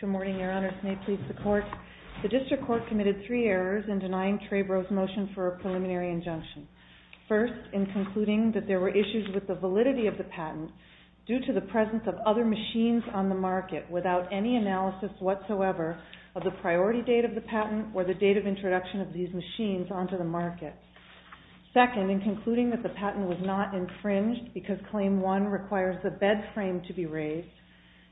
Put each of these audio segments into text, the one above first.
Good morning, Your Honors. May it please the Court, the District Court committed three injunctions. First, in concluding that there were issues with the validity of the patent due to the presence of other machines on the market without any analysis whatsoever of the priority date of the patent or the date of introduction of these machines onto the market. Second, in concluding that the patent was not infringed because Claim 1 requires the bed frame to be raised.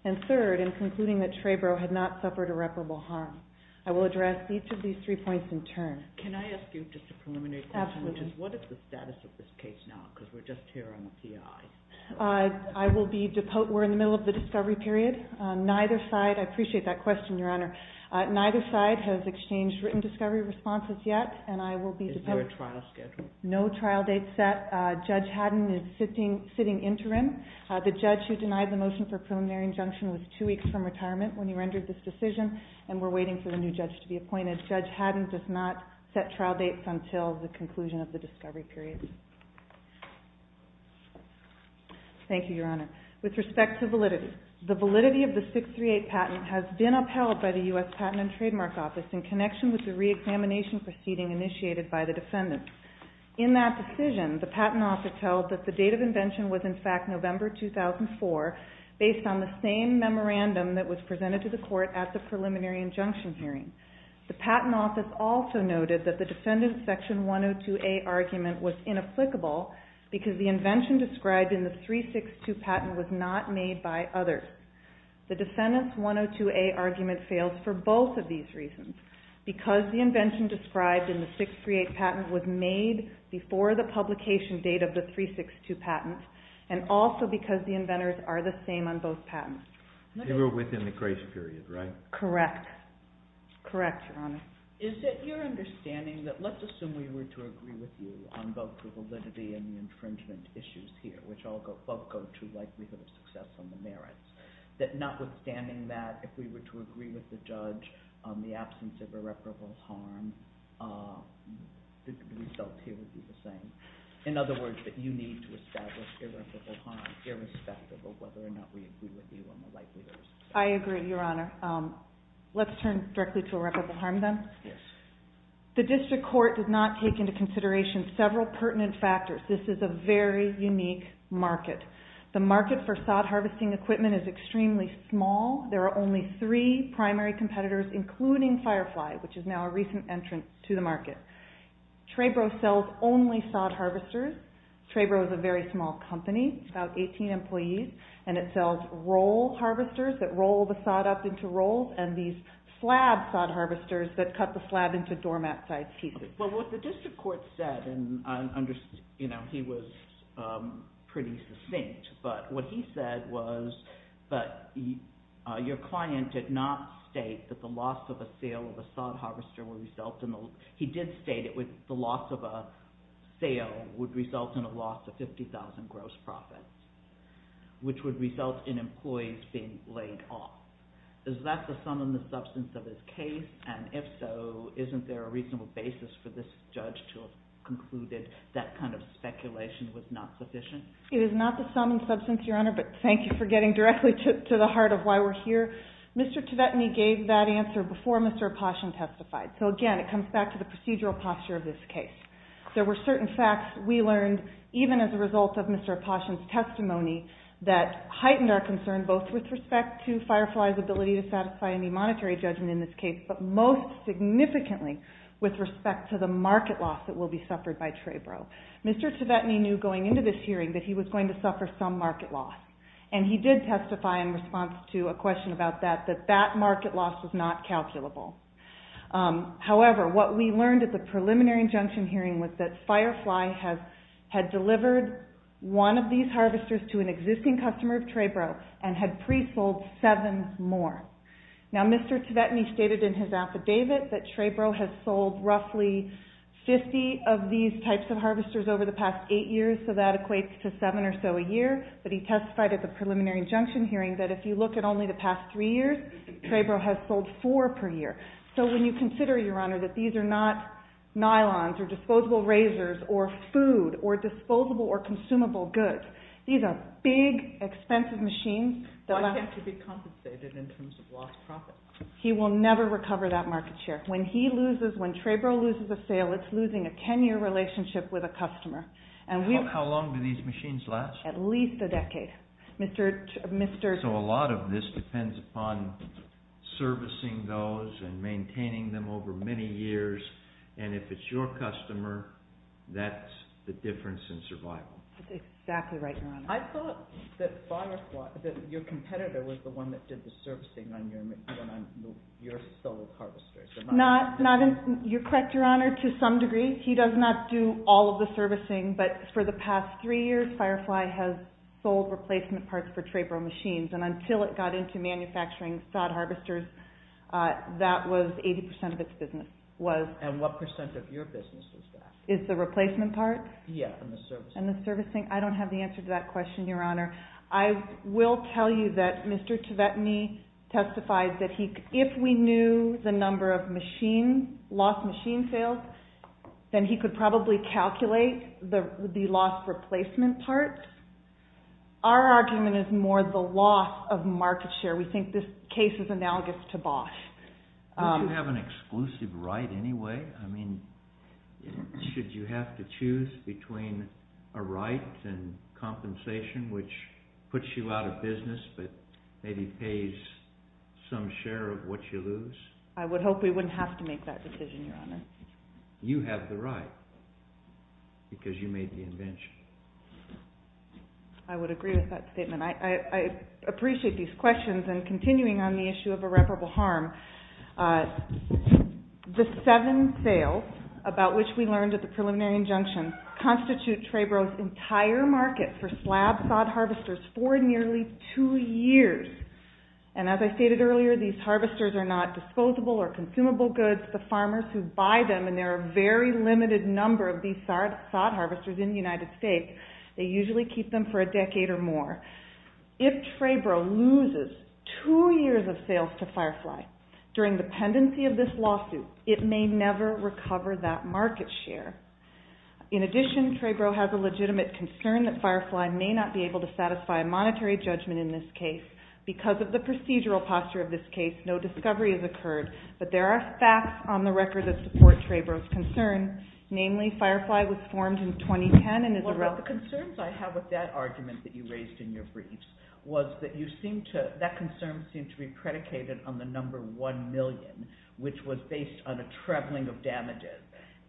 And third, in concluding that TREBRO had not suffered irreparable harm. I will address each of these three points in turn. Can I ask you just a preliminary question, which is, what is the status of this case now, because we're just here on the C.I.? I will be, we're in the middle of the discovery period. Neither side, I appreciate that question, Your Honor, neither side has exchanged written discovery responses yet, and I will be Is there a trial schedule? No trial date set. Judge Haddon is sitting interim. The judge who denied the motion for preliminary injunction was two weeks from retirement when he rendered this decision, and we're waiting for the new judge to be appointed. Judge Haddon does not set trial dates until the conclusion of the discovery period. Thank you, Your Honor. With respect to validity, the validity of the 638 patent has been upheld by the U.S. Patent and Trademark Office in connection with the reexamination proceeding initiated by the defendants. In that decision, the patent office held that the date of invention was in fact November 2004, based on the same memorandum that was presented to the court at the preliminary injunction hearing. The patent office also noted that the defendant's Section 102A argument was inapplicable because the invention described in the 362 patent was not made by others. The defendant's 102A argument fails for both of these reasons, because the invention described in the 638 patent was made before the publication date of the 362 patent, and also because the inventors are the same on both patents. They were within the grace period, right? Correct. Correct, Your Honor. Is it your understanding that, let's assume we were to agree with you on both the validity and the infringement issues here, which both go to likelihood of success on the merits, that notwithstanding that, if we were to agree with the judge on the absence of irreparable harm, the result here would be the same? In other words, that you need to establish irreparable harm irrespective of whether or not we agree with you on the likelihood of success. I agree, Your Honor. Let's turn directly to irreparable harm, then. Yes. The district court did not take into consideration several pertinent factors. This is a very unique market. The market for sod harvesting equipment is extremely small. There are only three primary competitors, including Firefly, which is now a recent entrance to the market. Trabro sells only sod harvesters. Trabro is a very small company, about 18 employees, and it sells roll harvesters that roll the sod up into rolls, and these slab sod harvesters that cut the slab into doormat-sized pieces. Well, what the district court said, and I understand he was pretty succinct, but what he said was that your client did not state that the loss of a sale of a sod harvester would result in a loss of 50,000 gross profit, which would result in employees being laid off. Is that the sum and substance of his case, and if so, isn't there a reasonable basis for this judge to have concluded that kind of speculation was not sufficient? It is not the sum and substance, Your Honor, but thank you for getting directly to the case that Mr. Opashin testified. So again, it comes back to the procedural posture of this case. There were certain facts we learned, even as a result of Mr. Opashin's testimony, that heightened our concern, both with respect to Firefly's ability to satisfy any monetary judgment in this case, but most significantly with respect to the market loss that will be suffered by Trabro. Mr. Tvetny knew going into this hearing that he was going to suffer some market loss, and he did testify in response to a question about that, that that market loss was not calculable. However, what we learned at the preliminary injunction hearing was that Firefly had delivered one of these harvesters to an existing customer of Trabro, and had pre-sold seven more. Now Mr. Tvetny stated in his affidavit that Trabro has sold roughly 50 of these types of harvesters over the past eight years, so that equates to seven or so a year, but he testified at the preliminary injunction hearing that if you look at only the past three years, Trabro has sold four per year. So when you consider, Your Honor, that these are not nylons, or disposable razors, or food, or disposable or consumable goods, these are big, expensive machines. Why can't it be compensated in terms of lost profit? He will never recover that market share. When he loses, when Trabro loses a sale, it's losing a ten-year relationship with a customer. How long do these machines last? At least a decade. So a lot of this depends upon servicing those and maintaining them over many years, and if it's your customer, that's the difference in survival. That's exactly right, Your Honor. I thought that Firefly, your competitor, was the one that did the servicing on your sold harvesters. You're correct, Your Honor, to some degree. He does not do all of the servicing, but for the past three years, Firefly has sold replacement parts for Trabro machines, and until it got into manufacturing sod harvesters, that was 80% of its business. And what percent of your business is that? Is the replacement part? Yes, and the servicing. And the servicing. I don't have the answer to that question, Your Honor. I will tell you that Mr. Tvetny testified that if we knew the number of lost machine sales, then he could probably calculate the lost replacement part. Our argument is more the loss of market share. We think this case is analogous to Bosch. Do you have an exclusive right anyway? I mean, should you have to choose between a right and compensation, which puts you out of business, but maybe pays some share of what you lose? I would hope we wouldn't have to make that decision, Your Honor. You have the right, because you made the invention. I would agree with that statement. I appreciate these questions, and continuing on the issue of irreparable harm, the seven sales, about which we learned at the preliminary injunction, constitute Trebro's entire market for slab sod harvesters for nearly two years. And as I stated earlier, these harvesters are not disposable or consumable goods. The farmers who buy them, and there are a very limited number of these sod harvesters in the United States, they usually keep them for a decade or more. If Trebro loses two years of sales to Firefly during the pendency of this lawsuit, it may never recover that market share. In addition, Trebro has a legitimate concern that Firefly may not be able to satisfy a monetary judgment in this case. Because of the procedural posture of this case, no discovery has occurred. But there are facts on the record that support Trebro's concern. Namely, Firefly was formed in 2010 and is a relative... Well, but the concerns I have with that argument that you raised in your briefs was that that concern seemed to be predicated on the number one million, which was based on a trebling of damages.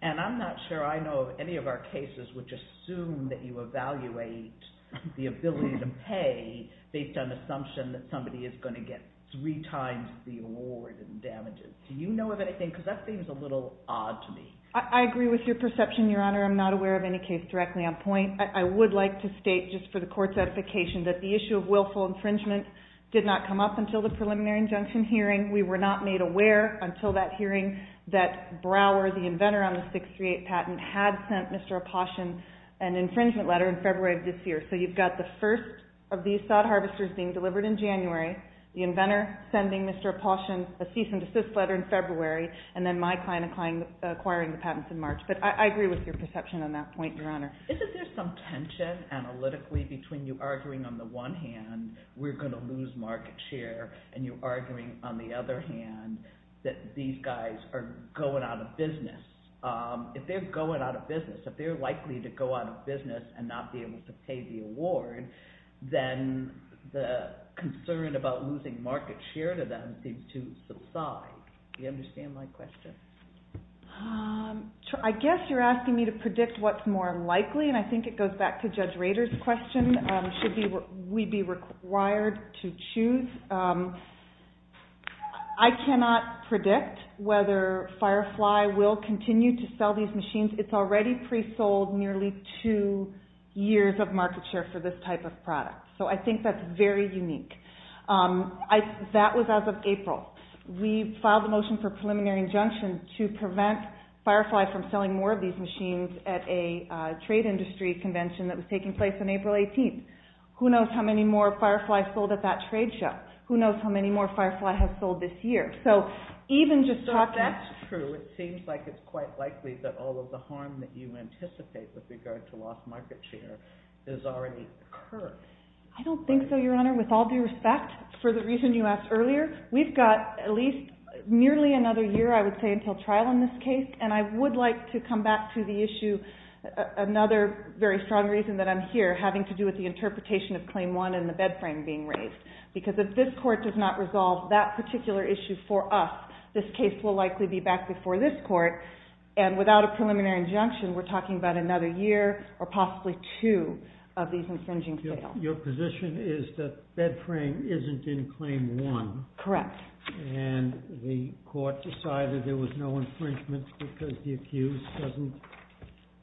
And I'm not sure I know of any of our cases which assume that you evaluate the ability to pay based on the assumption that somebody is going to get three times the award in damages. Do you know of anything? Because that seems a little odd to me. I agree with your perception, Your Honor. I'm not aware of any case directly on point. I would like to state just for the court's edification that the issue of willful infringement did not come up until the preliminary injunction hearing. We were not made aware until that hearing that Brower, the inventor on the 638 patent, had sent Mr. Aposhen an infringement letter in February of this year. So you've got the first of these sod harvesters being delivered in January, the inventor sending Mr. Aposhen a cease and desist letter in February, and then my client acquiring the patents in March. But I agree with your perception on that point, Your Honor. Isn't there some tension analytically between you arguing on the one hand we're going to lose market share and you arguing on the other hand that these guys are going out of business? If they're going out of business, if they're likely to go out of business and not be able to pay the award, then the concern about losing market share to them seems to subside. Do you understand my question? I guess you're asking me to predict what's more likely and I think it goes back to Judge Rader's question. Should we be required to choose? I cannot predict whether Firefly will continue to sell these machines. It's already pre-sold nearly two years of market share for this type of product. So I think that's very unique. That was as of April. We filed a motion for preliminary injunction to prevent Firefly from selling more of these machines at a trade industry convention that was taking place on April 18th. Who knows how many more Firefly sold at that trade show? Who knows how many more Firefly has sold this year? So that's true. It seems like it's quite likely that all of the harm that you anticipate with regard to lost market share has already occurred. I don't think so, Your Honor. With all due respect, for the reason you asked earlier, we've got at least nearly another year, I would say, until trial in this case and I would like to come back to the issue, another very strong reason that I'm here, having to do with the interpretation of Claim 1 and the bed frame being raised. Because if this Court does not resolve that particular issue for us, this case will likely be back before this Court and without a preliminary injunction, we're talking about another year or possibly two of these infringing sales. Your position is that bed frame isn't in Claim 1? Correct. And the Court decided there was no infringement because the accused doesn't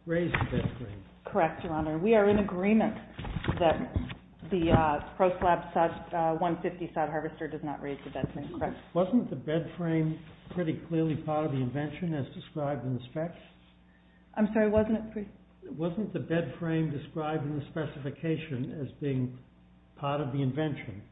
raise the bed frame? Correct, Your Honor. We are in agreement that the ProSlab 150 sod harvester does not raise the bed frame, correct? Wasn't the bed frame pretty clearly part of the invention as described in the specs? I'm sorry, wasn't it? Wasn't the bed frame described in the specification as being part of the invention?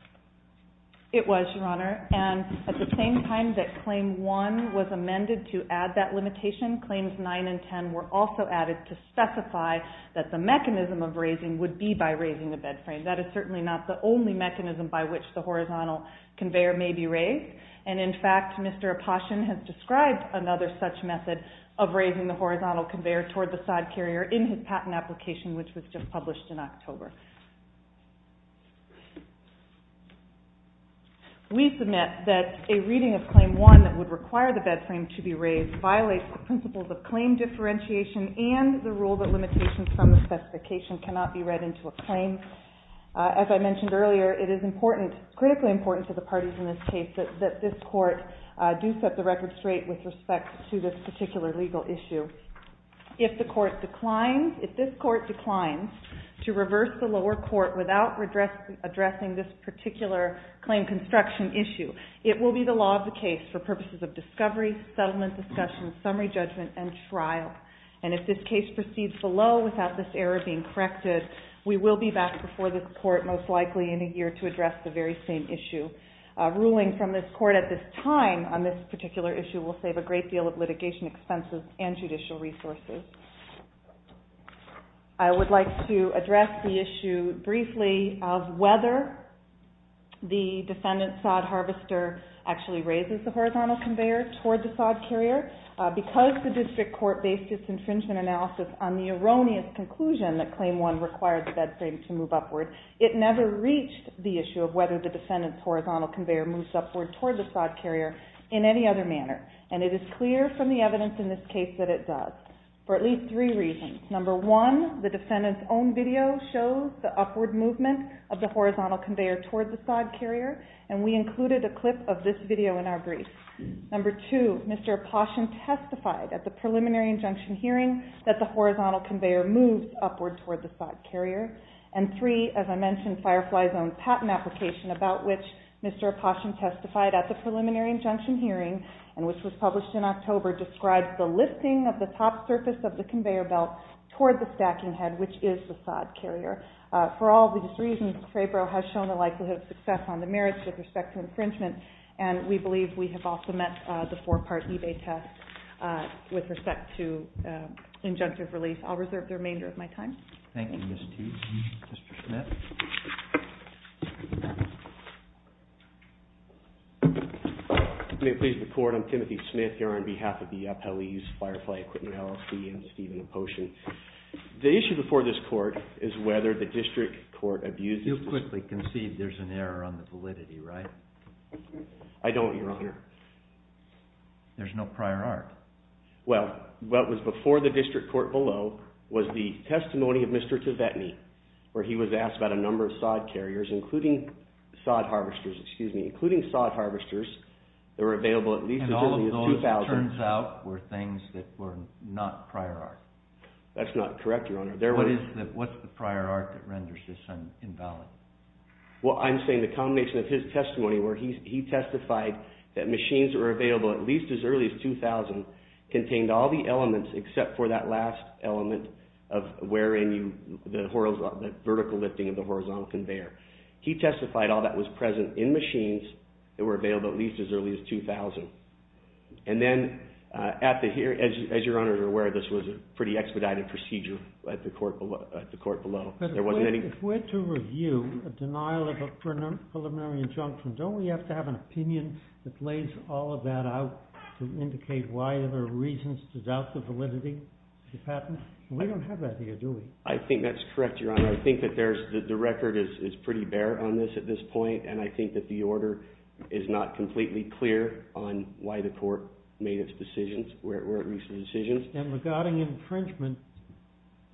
It was, Your Honor. And at the same time that Claim 1 was amended to add that limitation, Claims 9 and 10 were also added to specify that the mechanism of raising would be by raising the bed frame. That is certainly not the only mechanism by which the horizontal conveyor may be raised and in fact, Mr. Aposhen has described another such method of raising the horizontal conveyor toward the sod carrier in his patent application which was just published in October. We submit that a reading of Claim 1 that would require the bed frame to be raised violates the principles of claim differentiation and the rule that limitations from the specification cannot be read into a claim. As I mentioned earlier, it is important, critically important to the parties in this case that this Court do set the record straight with respect to this particular legal issue. If the Court declines, if this Court declines to reverse the lower court without addressing this particular claim construction issue, it will be the law of the case for purposes of discovery, settlement discussion, summary judgment, and trial. And if this case proceeds below without this error being corrected, we will be back before this Court most likely in a year to address the very same issue. A ruling from this Court at this time on this particular issue will save a great deal of litigation expenses and judicial resources. I would like to address the issue briefly of whether the defendant's sod harvester actually raises the horizontal conveyor toward the sod carrier. Because the District Court based its infringement analysis on the erroneous conclusion that Claim 1 required the bed frame to move upward, it never reached the issue of whether the defendant's horizontal conveyor moves upward toward the sod carrier in any other manner. And it is clear from the evidence in this case that it does. For at least three reasons. Number one, the defendant's own video shows the upward movement of the horizontal conveyor toward the sod carrier, and we included a clip of this video in our brief. Number two, Mr. Aposhen testified at the preliminary injunction hearing that the horizontal conveyor moves upward toward the sod carrier. And three, as I mentioned, Firefly's own patent application about which Mr. Aposhen testified at the preliminary injunction hearing and which was published in October describes the lifting of the top surface of the conveyor belt toward the stacking head which is the sod carrier. For all these reasons, Mr. Fabro has shown a likelihood of success on the merits with respect to infringement and we believe we have also met the four-part eBay test with respect to injunctive release. I'll reserve the remainder of my time. Thank you, Ms. Teague. Mr. Smith. May it please the Court, I'm Timothy Smith, here on behalf of the Appellees, Firefly Equipment LLC, and Stephen Aposhen. The issue before this Court is whether the District Court abuses... You'll quickly concede there's an error on the validity, right? I don't, Your Honor. There's no prior art. Well, what was before the District Court below was the where he was asked about a number of sod carriers including sod harvesters, excuse me, including sod harvesters that were available at least as early as 2000. And all of those, it turns out, were things that were not prior art. That's not correct, Your Honor. What's the prior art that renders this invalid? Well, I'm saying the combination of his testimony where he testified that machines that were available at least as early as 2000 contained all the elements except for that last element of the vertical lifting of the horizontal conveyor. He testified all that was present in machines that were available at least as early as 2000. And then, as Your Honor is aware, this was a pretty expedited procedure at the Court below. If we're to review a denial of a preliminary injunction, don't we have to have an opinion that lays all of that out to indicate why there are reasons to doubt the validity of the patent? We don't have that here, do we? I think that's correct, Your Honor. I think that the record is pretty bare on this at this point, and I think that the order is not completely clear on why the Court made its decisions, where it reached the decisions. And regarding infringement,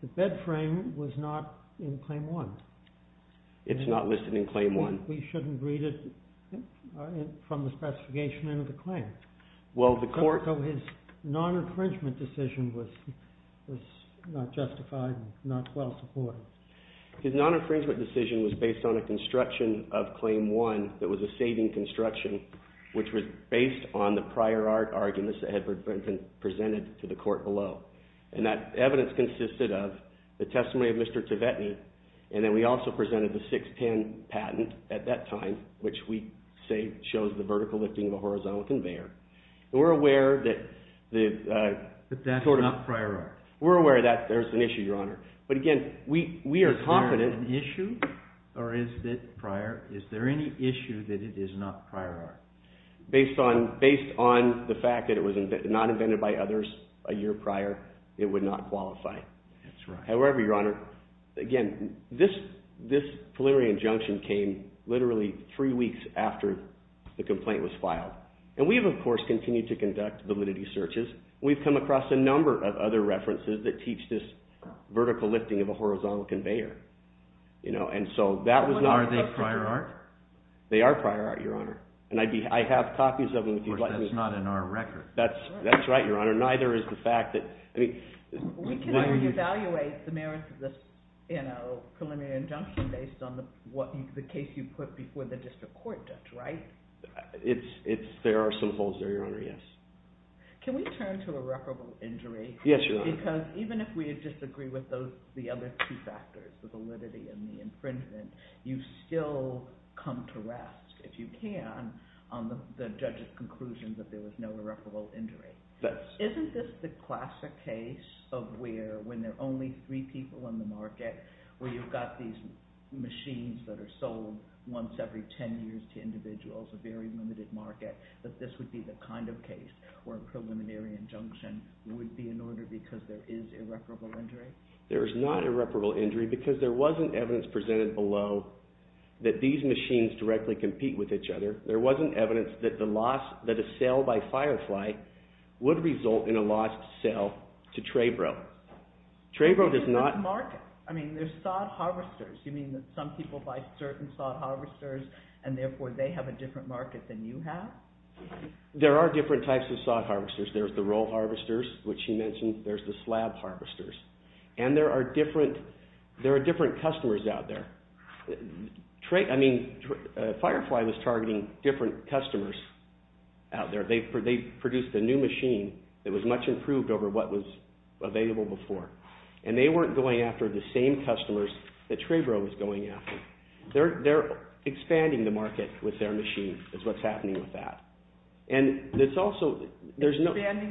the bed frame was not in Claim 1. It's not listed in Claim 1. We shouldn't read it from the specification into the claim. Well, the Court... So his non-infringement decision was not justified and not well supported. His non-infringement decision was based on a construction of Claim 1 that was a saving construction, which was based on the prior arguments that had been presented to the Court below. And that evidence consisted of the testimony of Mr. Tvetny, and then we also presented the 610 patent at that time, which we say shows the vertical lifting of a horizontal conveyor. We're aware that that's not prior art. We're aware that there's an issue, Your Honor. But again, we are confident... Is there an issue, or is it prior? Is there any issue that it is not prior art? Based on the fact that it was not invented by others a year prior, it would not qualify. That's right. However, Your Honor, again, this preliminary injunction came literally three weeks after the complaint was filed. And we have, of course, continued to conduct validity searches. We've come across a number of other references that teach this vertical lifting of a horizontal conveyor. You know, and so that was not... Are they prior art? They are prior art, Your Honor. I have copies of them, if you'd like me to... Of course, that's not in our record. That's right, Your Honor. Neither is the fact that... We can either evaluate the merits of this preliminary injunction based on the case you write? There are some holes there, Your Honor, yes. Can we turn to irreparable injury? Yes, Your Honor. Because even if we disagree with the other two factors, the validity and the infringement, you still come to rest, if you can, on the judge's conclusion that there was no irreparable injury. Isn't this the classic case of where, when there are only three people in the market, where you've got these machines that are sold once every ten years to individuals, a very limited market, that this would be the kind of case where a preliminary injunction would be in order because there is irreparable injury? There is not irreparable injury because there wasn't evidence presented below that these machines directly compete with each other. There wasn't evidence that a sale by Firefly would result in a lost sale to Trebro. Trebro does not... I mean, they're sod harvesters. You mean that some people buy certain sod harvesters and therefore they have a different market than you have? There are different types of sod harvesters. There's the roll harvesters, which you mentioned. There's the slab harvesters. And there are different customers out there. I mean, Firefly was targeting different customers out there. They produced a new machine that was much improved over what was available before. And they weren't going after the same customers that Trebro was going after. They're expanding the market with their machine is what's happening with that. Expanding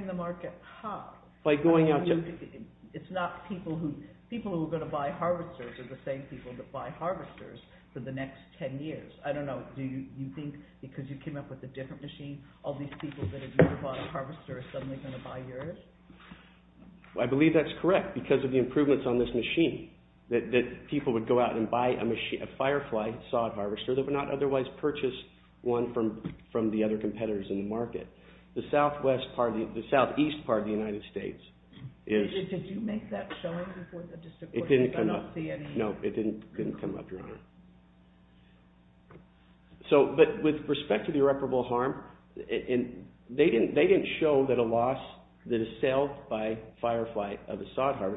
the market how? It's not people who are going to buy harvesters are the same people that buy harvesters for the next 10 years. I don't know. Do you think because you came up with a different machine, all these people that have never bought a harvester are suddenly going to buy yours? I believe that's correct because of the improvements on this machine that people would go out and buy a Firefly sod harvester that would not otherwise purchase one from the other competitors in the market. The southeast part of the United States Did you make that showing before the district court? I don't see any. No, it didn't come up, Your Honor. But with respect to the irreparable harm they didn't show that a loss that is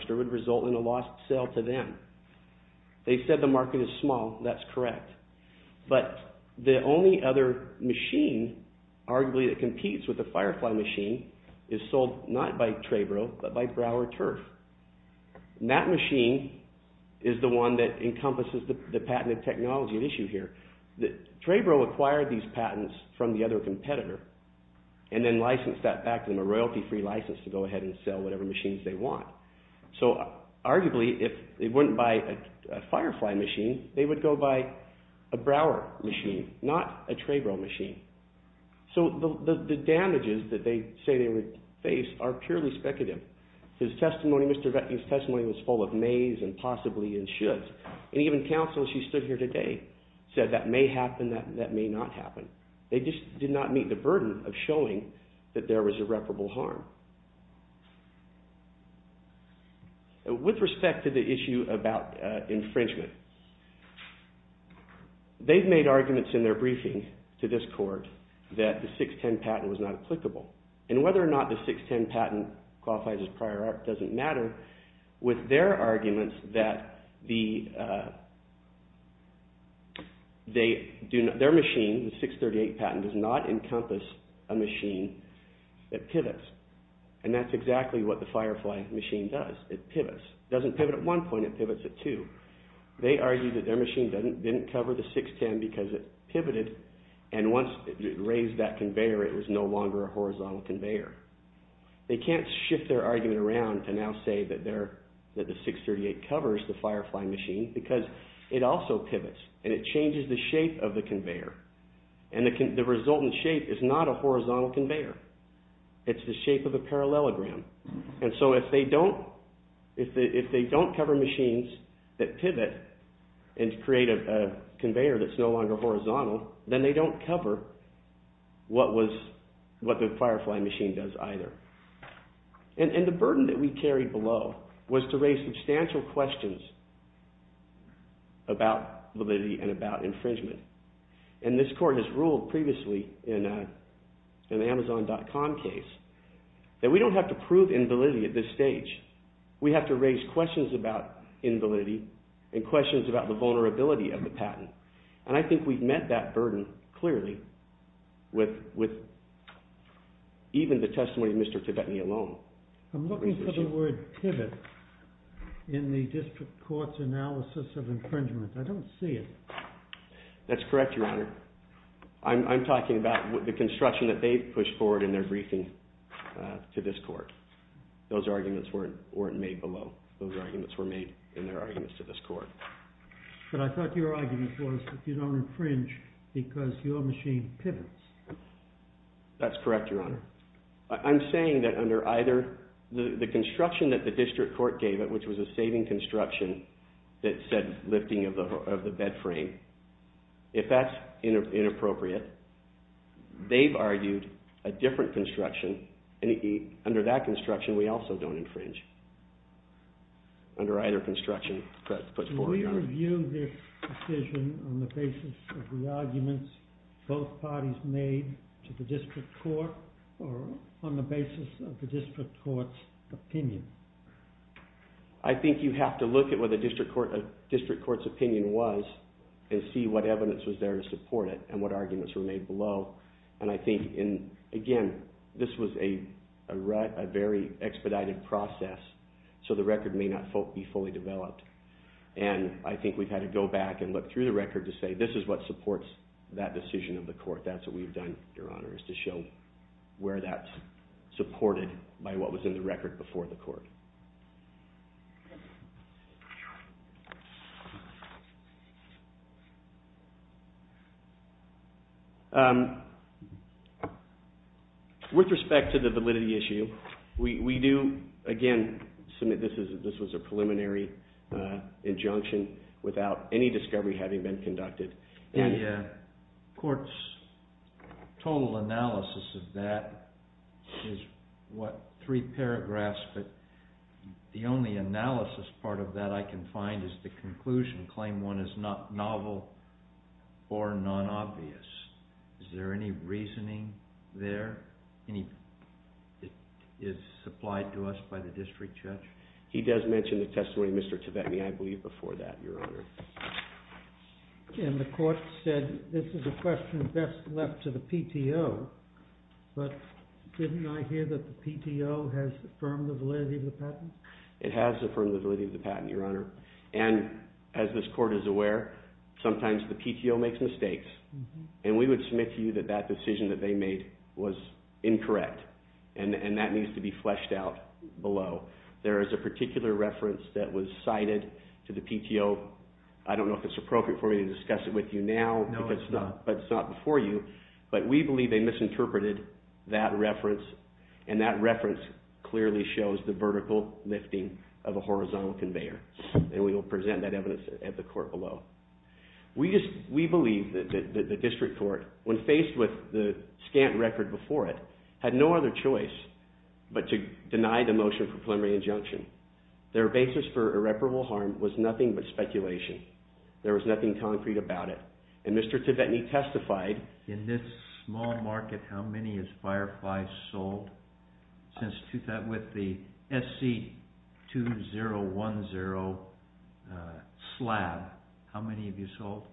would result in a lost sale to them. They said the market is small. That's correct. But the only other machine arguably that competes with the Firefly machine is sold not by Trebro but by Broward Turf. That machine is the one that encompasses the patented technology at issue here. Trebro acquired these patents from the other competitor and then licensed that back to them, a royalty free license to go ahead and sell whatever machines they want. So arguably if they wouldn't buy a Firefly machine they would go buy a Broward machine, not a Trebro machine. So the damages that they say they would face are purely speculative. Mr. Vetting's testimony was full of mays and possibly and shoulds. Even counsel, she stood here today said that may happen, that may not happen. They just did not meet the burden of showing that there was irreparable harm. With respect to the issue about infringement, they've made arguments in their briefing to this court that the 610 patent was not applicable. And whether or not the 610 patent qualifies as prior art doesn't matter with their arguments that the their machine the 638 patent does not encompass a machine that pivots. And that's exactly what the Firefly machine does, it pivots. It doesn't pivot at one point, it pivots at two. They argue that their machine didn't cover the 610 because it pivoted and once it raised that conveyor it was no longer a horizontal conveyor. They can't shift their argument around and now say that the 638 covers the Firefly machine because it also pivots and it changes the shape of the conveyor. And the resultant shape is not a horizontal conveyor. It's the shape of a parallelogram. And so if they don't if they don't cover machines that pivot and create a conveyor that's no longer horizontal, then they don't cover what was what the Firefly machine does either. And the burden that we carry below was to raise substantial questions about validity and about infringement. And this court has ruled previously in the Amazon.com case that we don't have to prove invalidity at this stage. We have to raise questions about invalidity and questions about the vulnerability of the patent. And I think we've met that burden clearly with even the testimony of Mr. Tibetany alone. I'm looking for the word pivot in the district court's analysis of infringement. I don't see it. That's correct, Your Honor. I'm talking about the construction that they've pushed forward in their briefing to this court. Those arguments weren't made below. Those arguments were made in their arguments to this court. But I thought your argument was that you don't infringe because your machine pivots. That's correct, Your Honor. I'm saying that under either the construction that the district court gave it, which was a saving construction that said lifting of the bed frame, if that's inappropriate, they've argued a different construction and under that construction we also don't infringe under either construction put forward, Your Honor. Can we review this decision on the basis of the arguments both parties made to the district court or on the basis of the district court's opinion? I think you have to look at what the district court's opinion was and see what evidence was there to support it and what arguments were made below. Again, this was a very expedited process, so the record may not be fully developed. I think we've had to go back and look through the record to say this is what supports that decision of the court. That's what we've done, Your Honor, is to show where that's supported by what was in the record before the court. With respect to the validity issue, we do again submit this was a preliminary injunction without any discovery having been conducted. The court's total analysis of that is, what, three paragraphs, but the only analysis part of that I can find is the conclusion claim one is novel or non-obvious. Is there any reasoning there? Any that is supplied to us by the district judge? He does mention the testimony of Mr. Tibetny, I believe, before that, Your Honor. And the court said this is a question best left to the PTO, but didn't I hear that the PTO has affirmed the validity of the patent? It has affirmed the validity of the patent, Your Honor. And, as this court is aware, sometimes the PTO makes mistakes, and we would submit to you that that decision that they made was incorrect, and that needs to be fleshed out below. There is a particular reference that was cited to the PTO. I don't know if it's appropriate for me to discuss it with you now, but it's not misinterpreted, that reference, and that reference clearly shows the vertical lifting of a horizontal conveyor. And we will present that evidence at the court below. We believe that the district court, when faced with the scant record before it, had no other choice but to deny the motion for preliminary injunction. Their basis for irreparable harm was nothing but speculation. There was nothing concrete about it. And Mr. Tibetny testified in this small market, how many has Firefly sold since 2010, with the SC2010 slab. How many have you sold?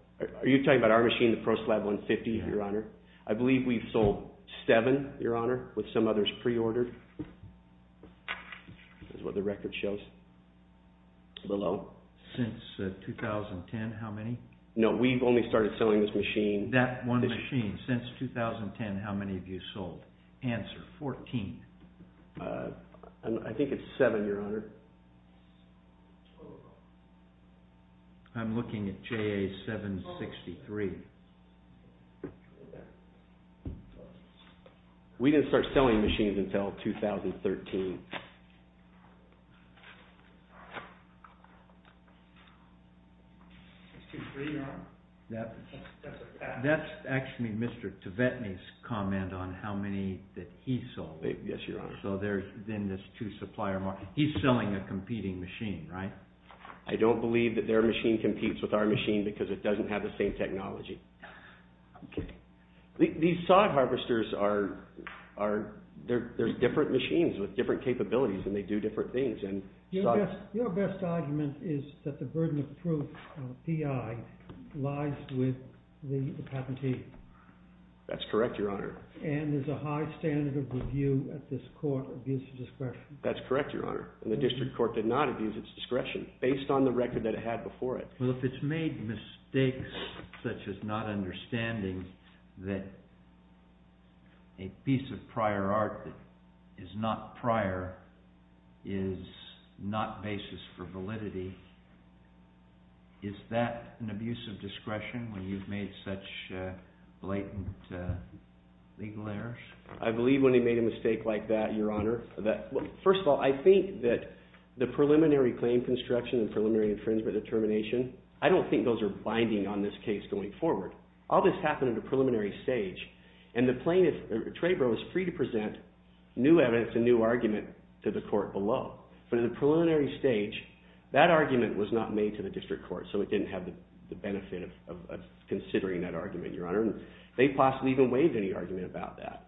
Are you talking about our machine, the ProSlab 150, Your Honor? I believe we've sold 7, Your Honor, with some others pre-ordered. This is what the record shows below. Since 2010, how many? No, we've only started selling this machine. That one machine. Since 2010, how many have you sold? Answer, 14. I think it's 7, Your Honor. I'm looking at JA763. We didn't start selling machines until 2013. That's actually Mr. Tibetny's comment on how many that he sold. Yes, Your Honor. He's selling a competing machine, right? I don't believe that their machine competes with our machine because it doesn't have the same technology. I'm kidding. are, they're different machines with different capabilities. I don't believe that they do different things. Your best argument is that the burden of proof, P.I., lies with the patentee. That's correct, Your Honor. And is a high standard of review at this court abuse of discretion? That's correct, Your Honor. The district court did not abuse its discretion based on the record that it had before it. Well, if it's made mistakes such as not understanding that a piece of prior art is not prior is not basis for validity, is that an abuse of discretion when you've made such blatant legal errors? I believe when they made a mistake like that, Your Honor. First of all, I think that the preliminary claim construction and preliminary infringement determination, I don't think those are binding on this case going forward. All this happened at a preliminary stage, and the plaintiff was free to present new evidence and new argument to the court below. But at the preliminary stage, that argument was not made to the district court, so it didn't have the benefit of considering that argument, Your Honor. They possibly even waived any argument about that.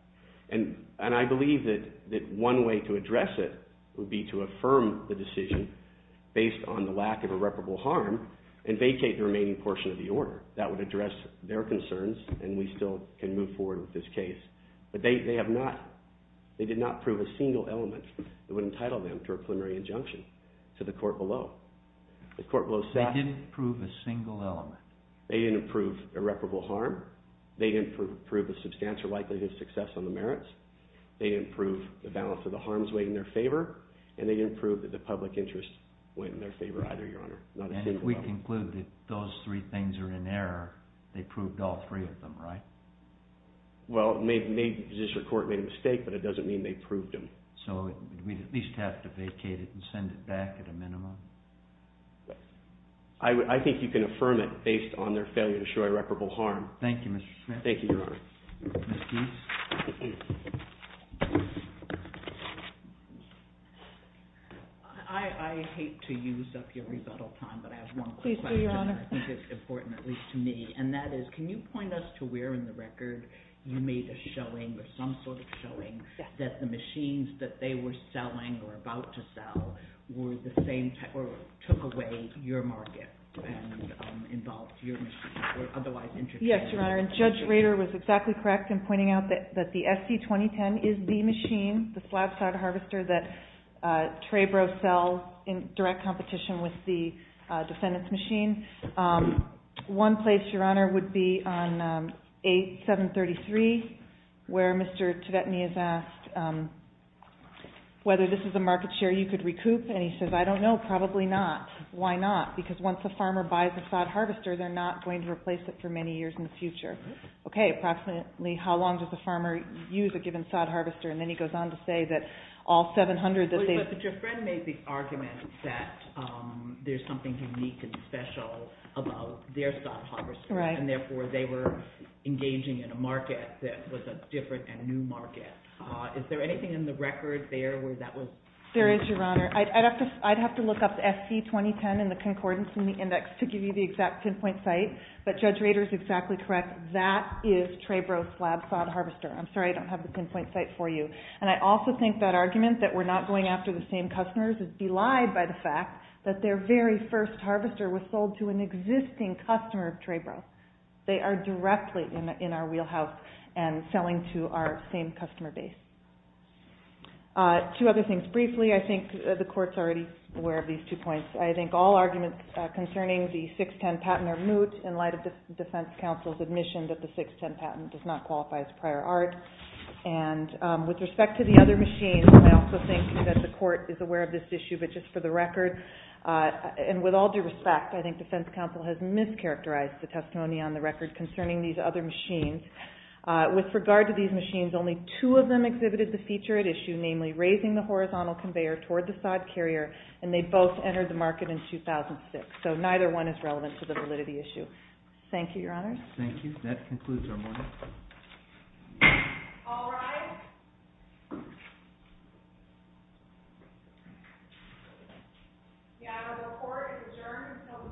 And I believe that one way to address it would be to affirm the decision based on the lack of irreparable harm and vacate the remaining portion of the order. That would address their concerns, and we still can move forward with this case. They did not prove a single element that would entitle them to a preliminary injunction to the court below. The court below said... They didn't prove a single element. They didn't prove irreparable harm. They didn't prove a substantial likelihood of success on the merits. They didn't prove the balance of the harms in their favor, and they didn't prove that the public interest went in their favor either, Your Honor. And if we conclude that those three things are in error, they proved all three of them, right? Well, maybe the District Court made a mistake, but it doesn't mean they proved them. So we'd at least have to vacate it and send it back at a minimum? I think you can affirm it based on their failure to show irreparable harm. Thank you, Mr. Smith. Thank you, Your Honor. I hate to use up your rebuttal time, but I have one quick question. I think it's important, at least to me. And that is, can you point us to where in the record you made a showing or some sort of showing that the machines that they were selling or about to sell were the same type, or took away your market and involved your machines, or otherwise... Yes, Your Honor, and Judge Rader was exactly correct in pointing out that the SC2010 is the machine, the Slab-Sod Harvester, that Trebro sells in direct competition with the defendant's machine. One place, Your Honor, would be on 8733, where Mr. Tvetny has asked whether this is a market share you could recoup, and he says, I don't know, probably not. Why not? Because once a farmer buys a Sod Harvester, they're not going to replace it for many years in the future. Okay, approximately how long does a farmer use a given Sod Harvester? And then he goes on to say that all 700 that they've... But your friend made the point that there's something unique and special about their Sod Harvester, and therefore they were engaging in a market that was a different and new market. Is there anything in the record there where that was... There is, Your Honor. I'd have to look up the SC2010 and the concordance in the index to give you the exact pinpoint site, but Judge Rader is exactly correct. That is Trebro's Slab-Sod Harvester. I'm sorry, I don't have the pinpoint site for you. And I also think that argument, that we're not going after the same customers, is belied by the fact that their very first harvester was sold to an existing customer of Trebro's. They are directly in our wheelhouse and selling to our same customer base. Two other things. Briefly, I think the Court's already aware of these two points. I think all arguments concerning the 610 patent are moot in light of the defense counsel's admission that the 610 patent does not qualify as prior art. And with respect to the other machines, I also think that the Court is aware of this issue, but just for the record and with all due respect, I think defense counsel has mischaracterized the testimony on the record concerning these other machines. With regard to these machines, only two of them exhibited the feature at issue, namely raising the horizontal conveyor toward the side carrier and they both entered the market in 2006. So neither one is relevant to the validity issue. Thank you, Your Honor. Thank you. That concludes our morning. All rise. The Honorable Court adjourns until the afternoon of 6 p.m.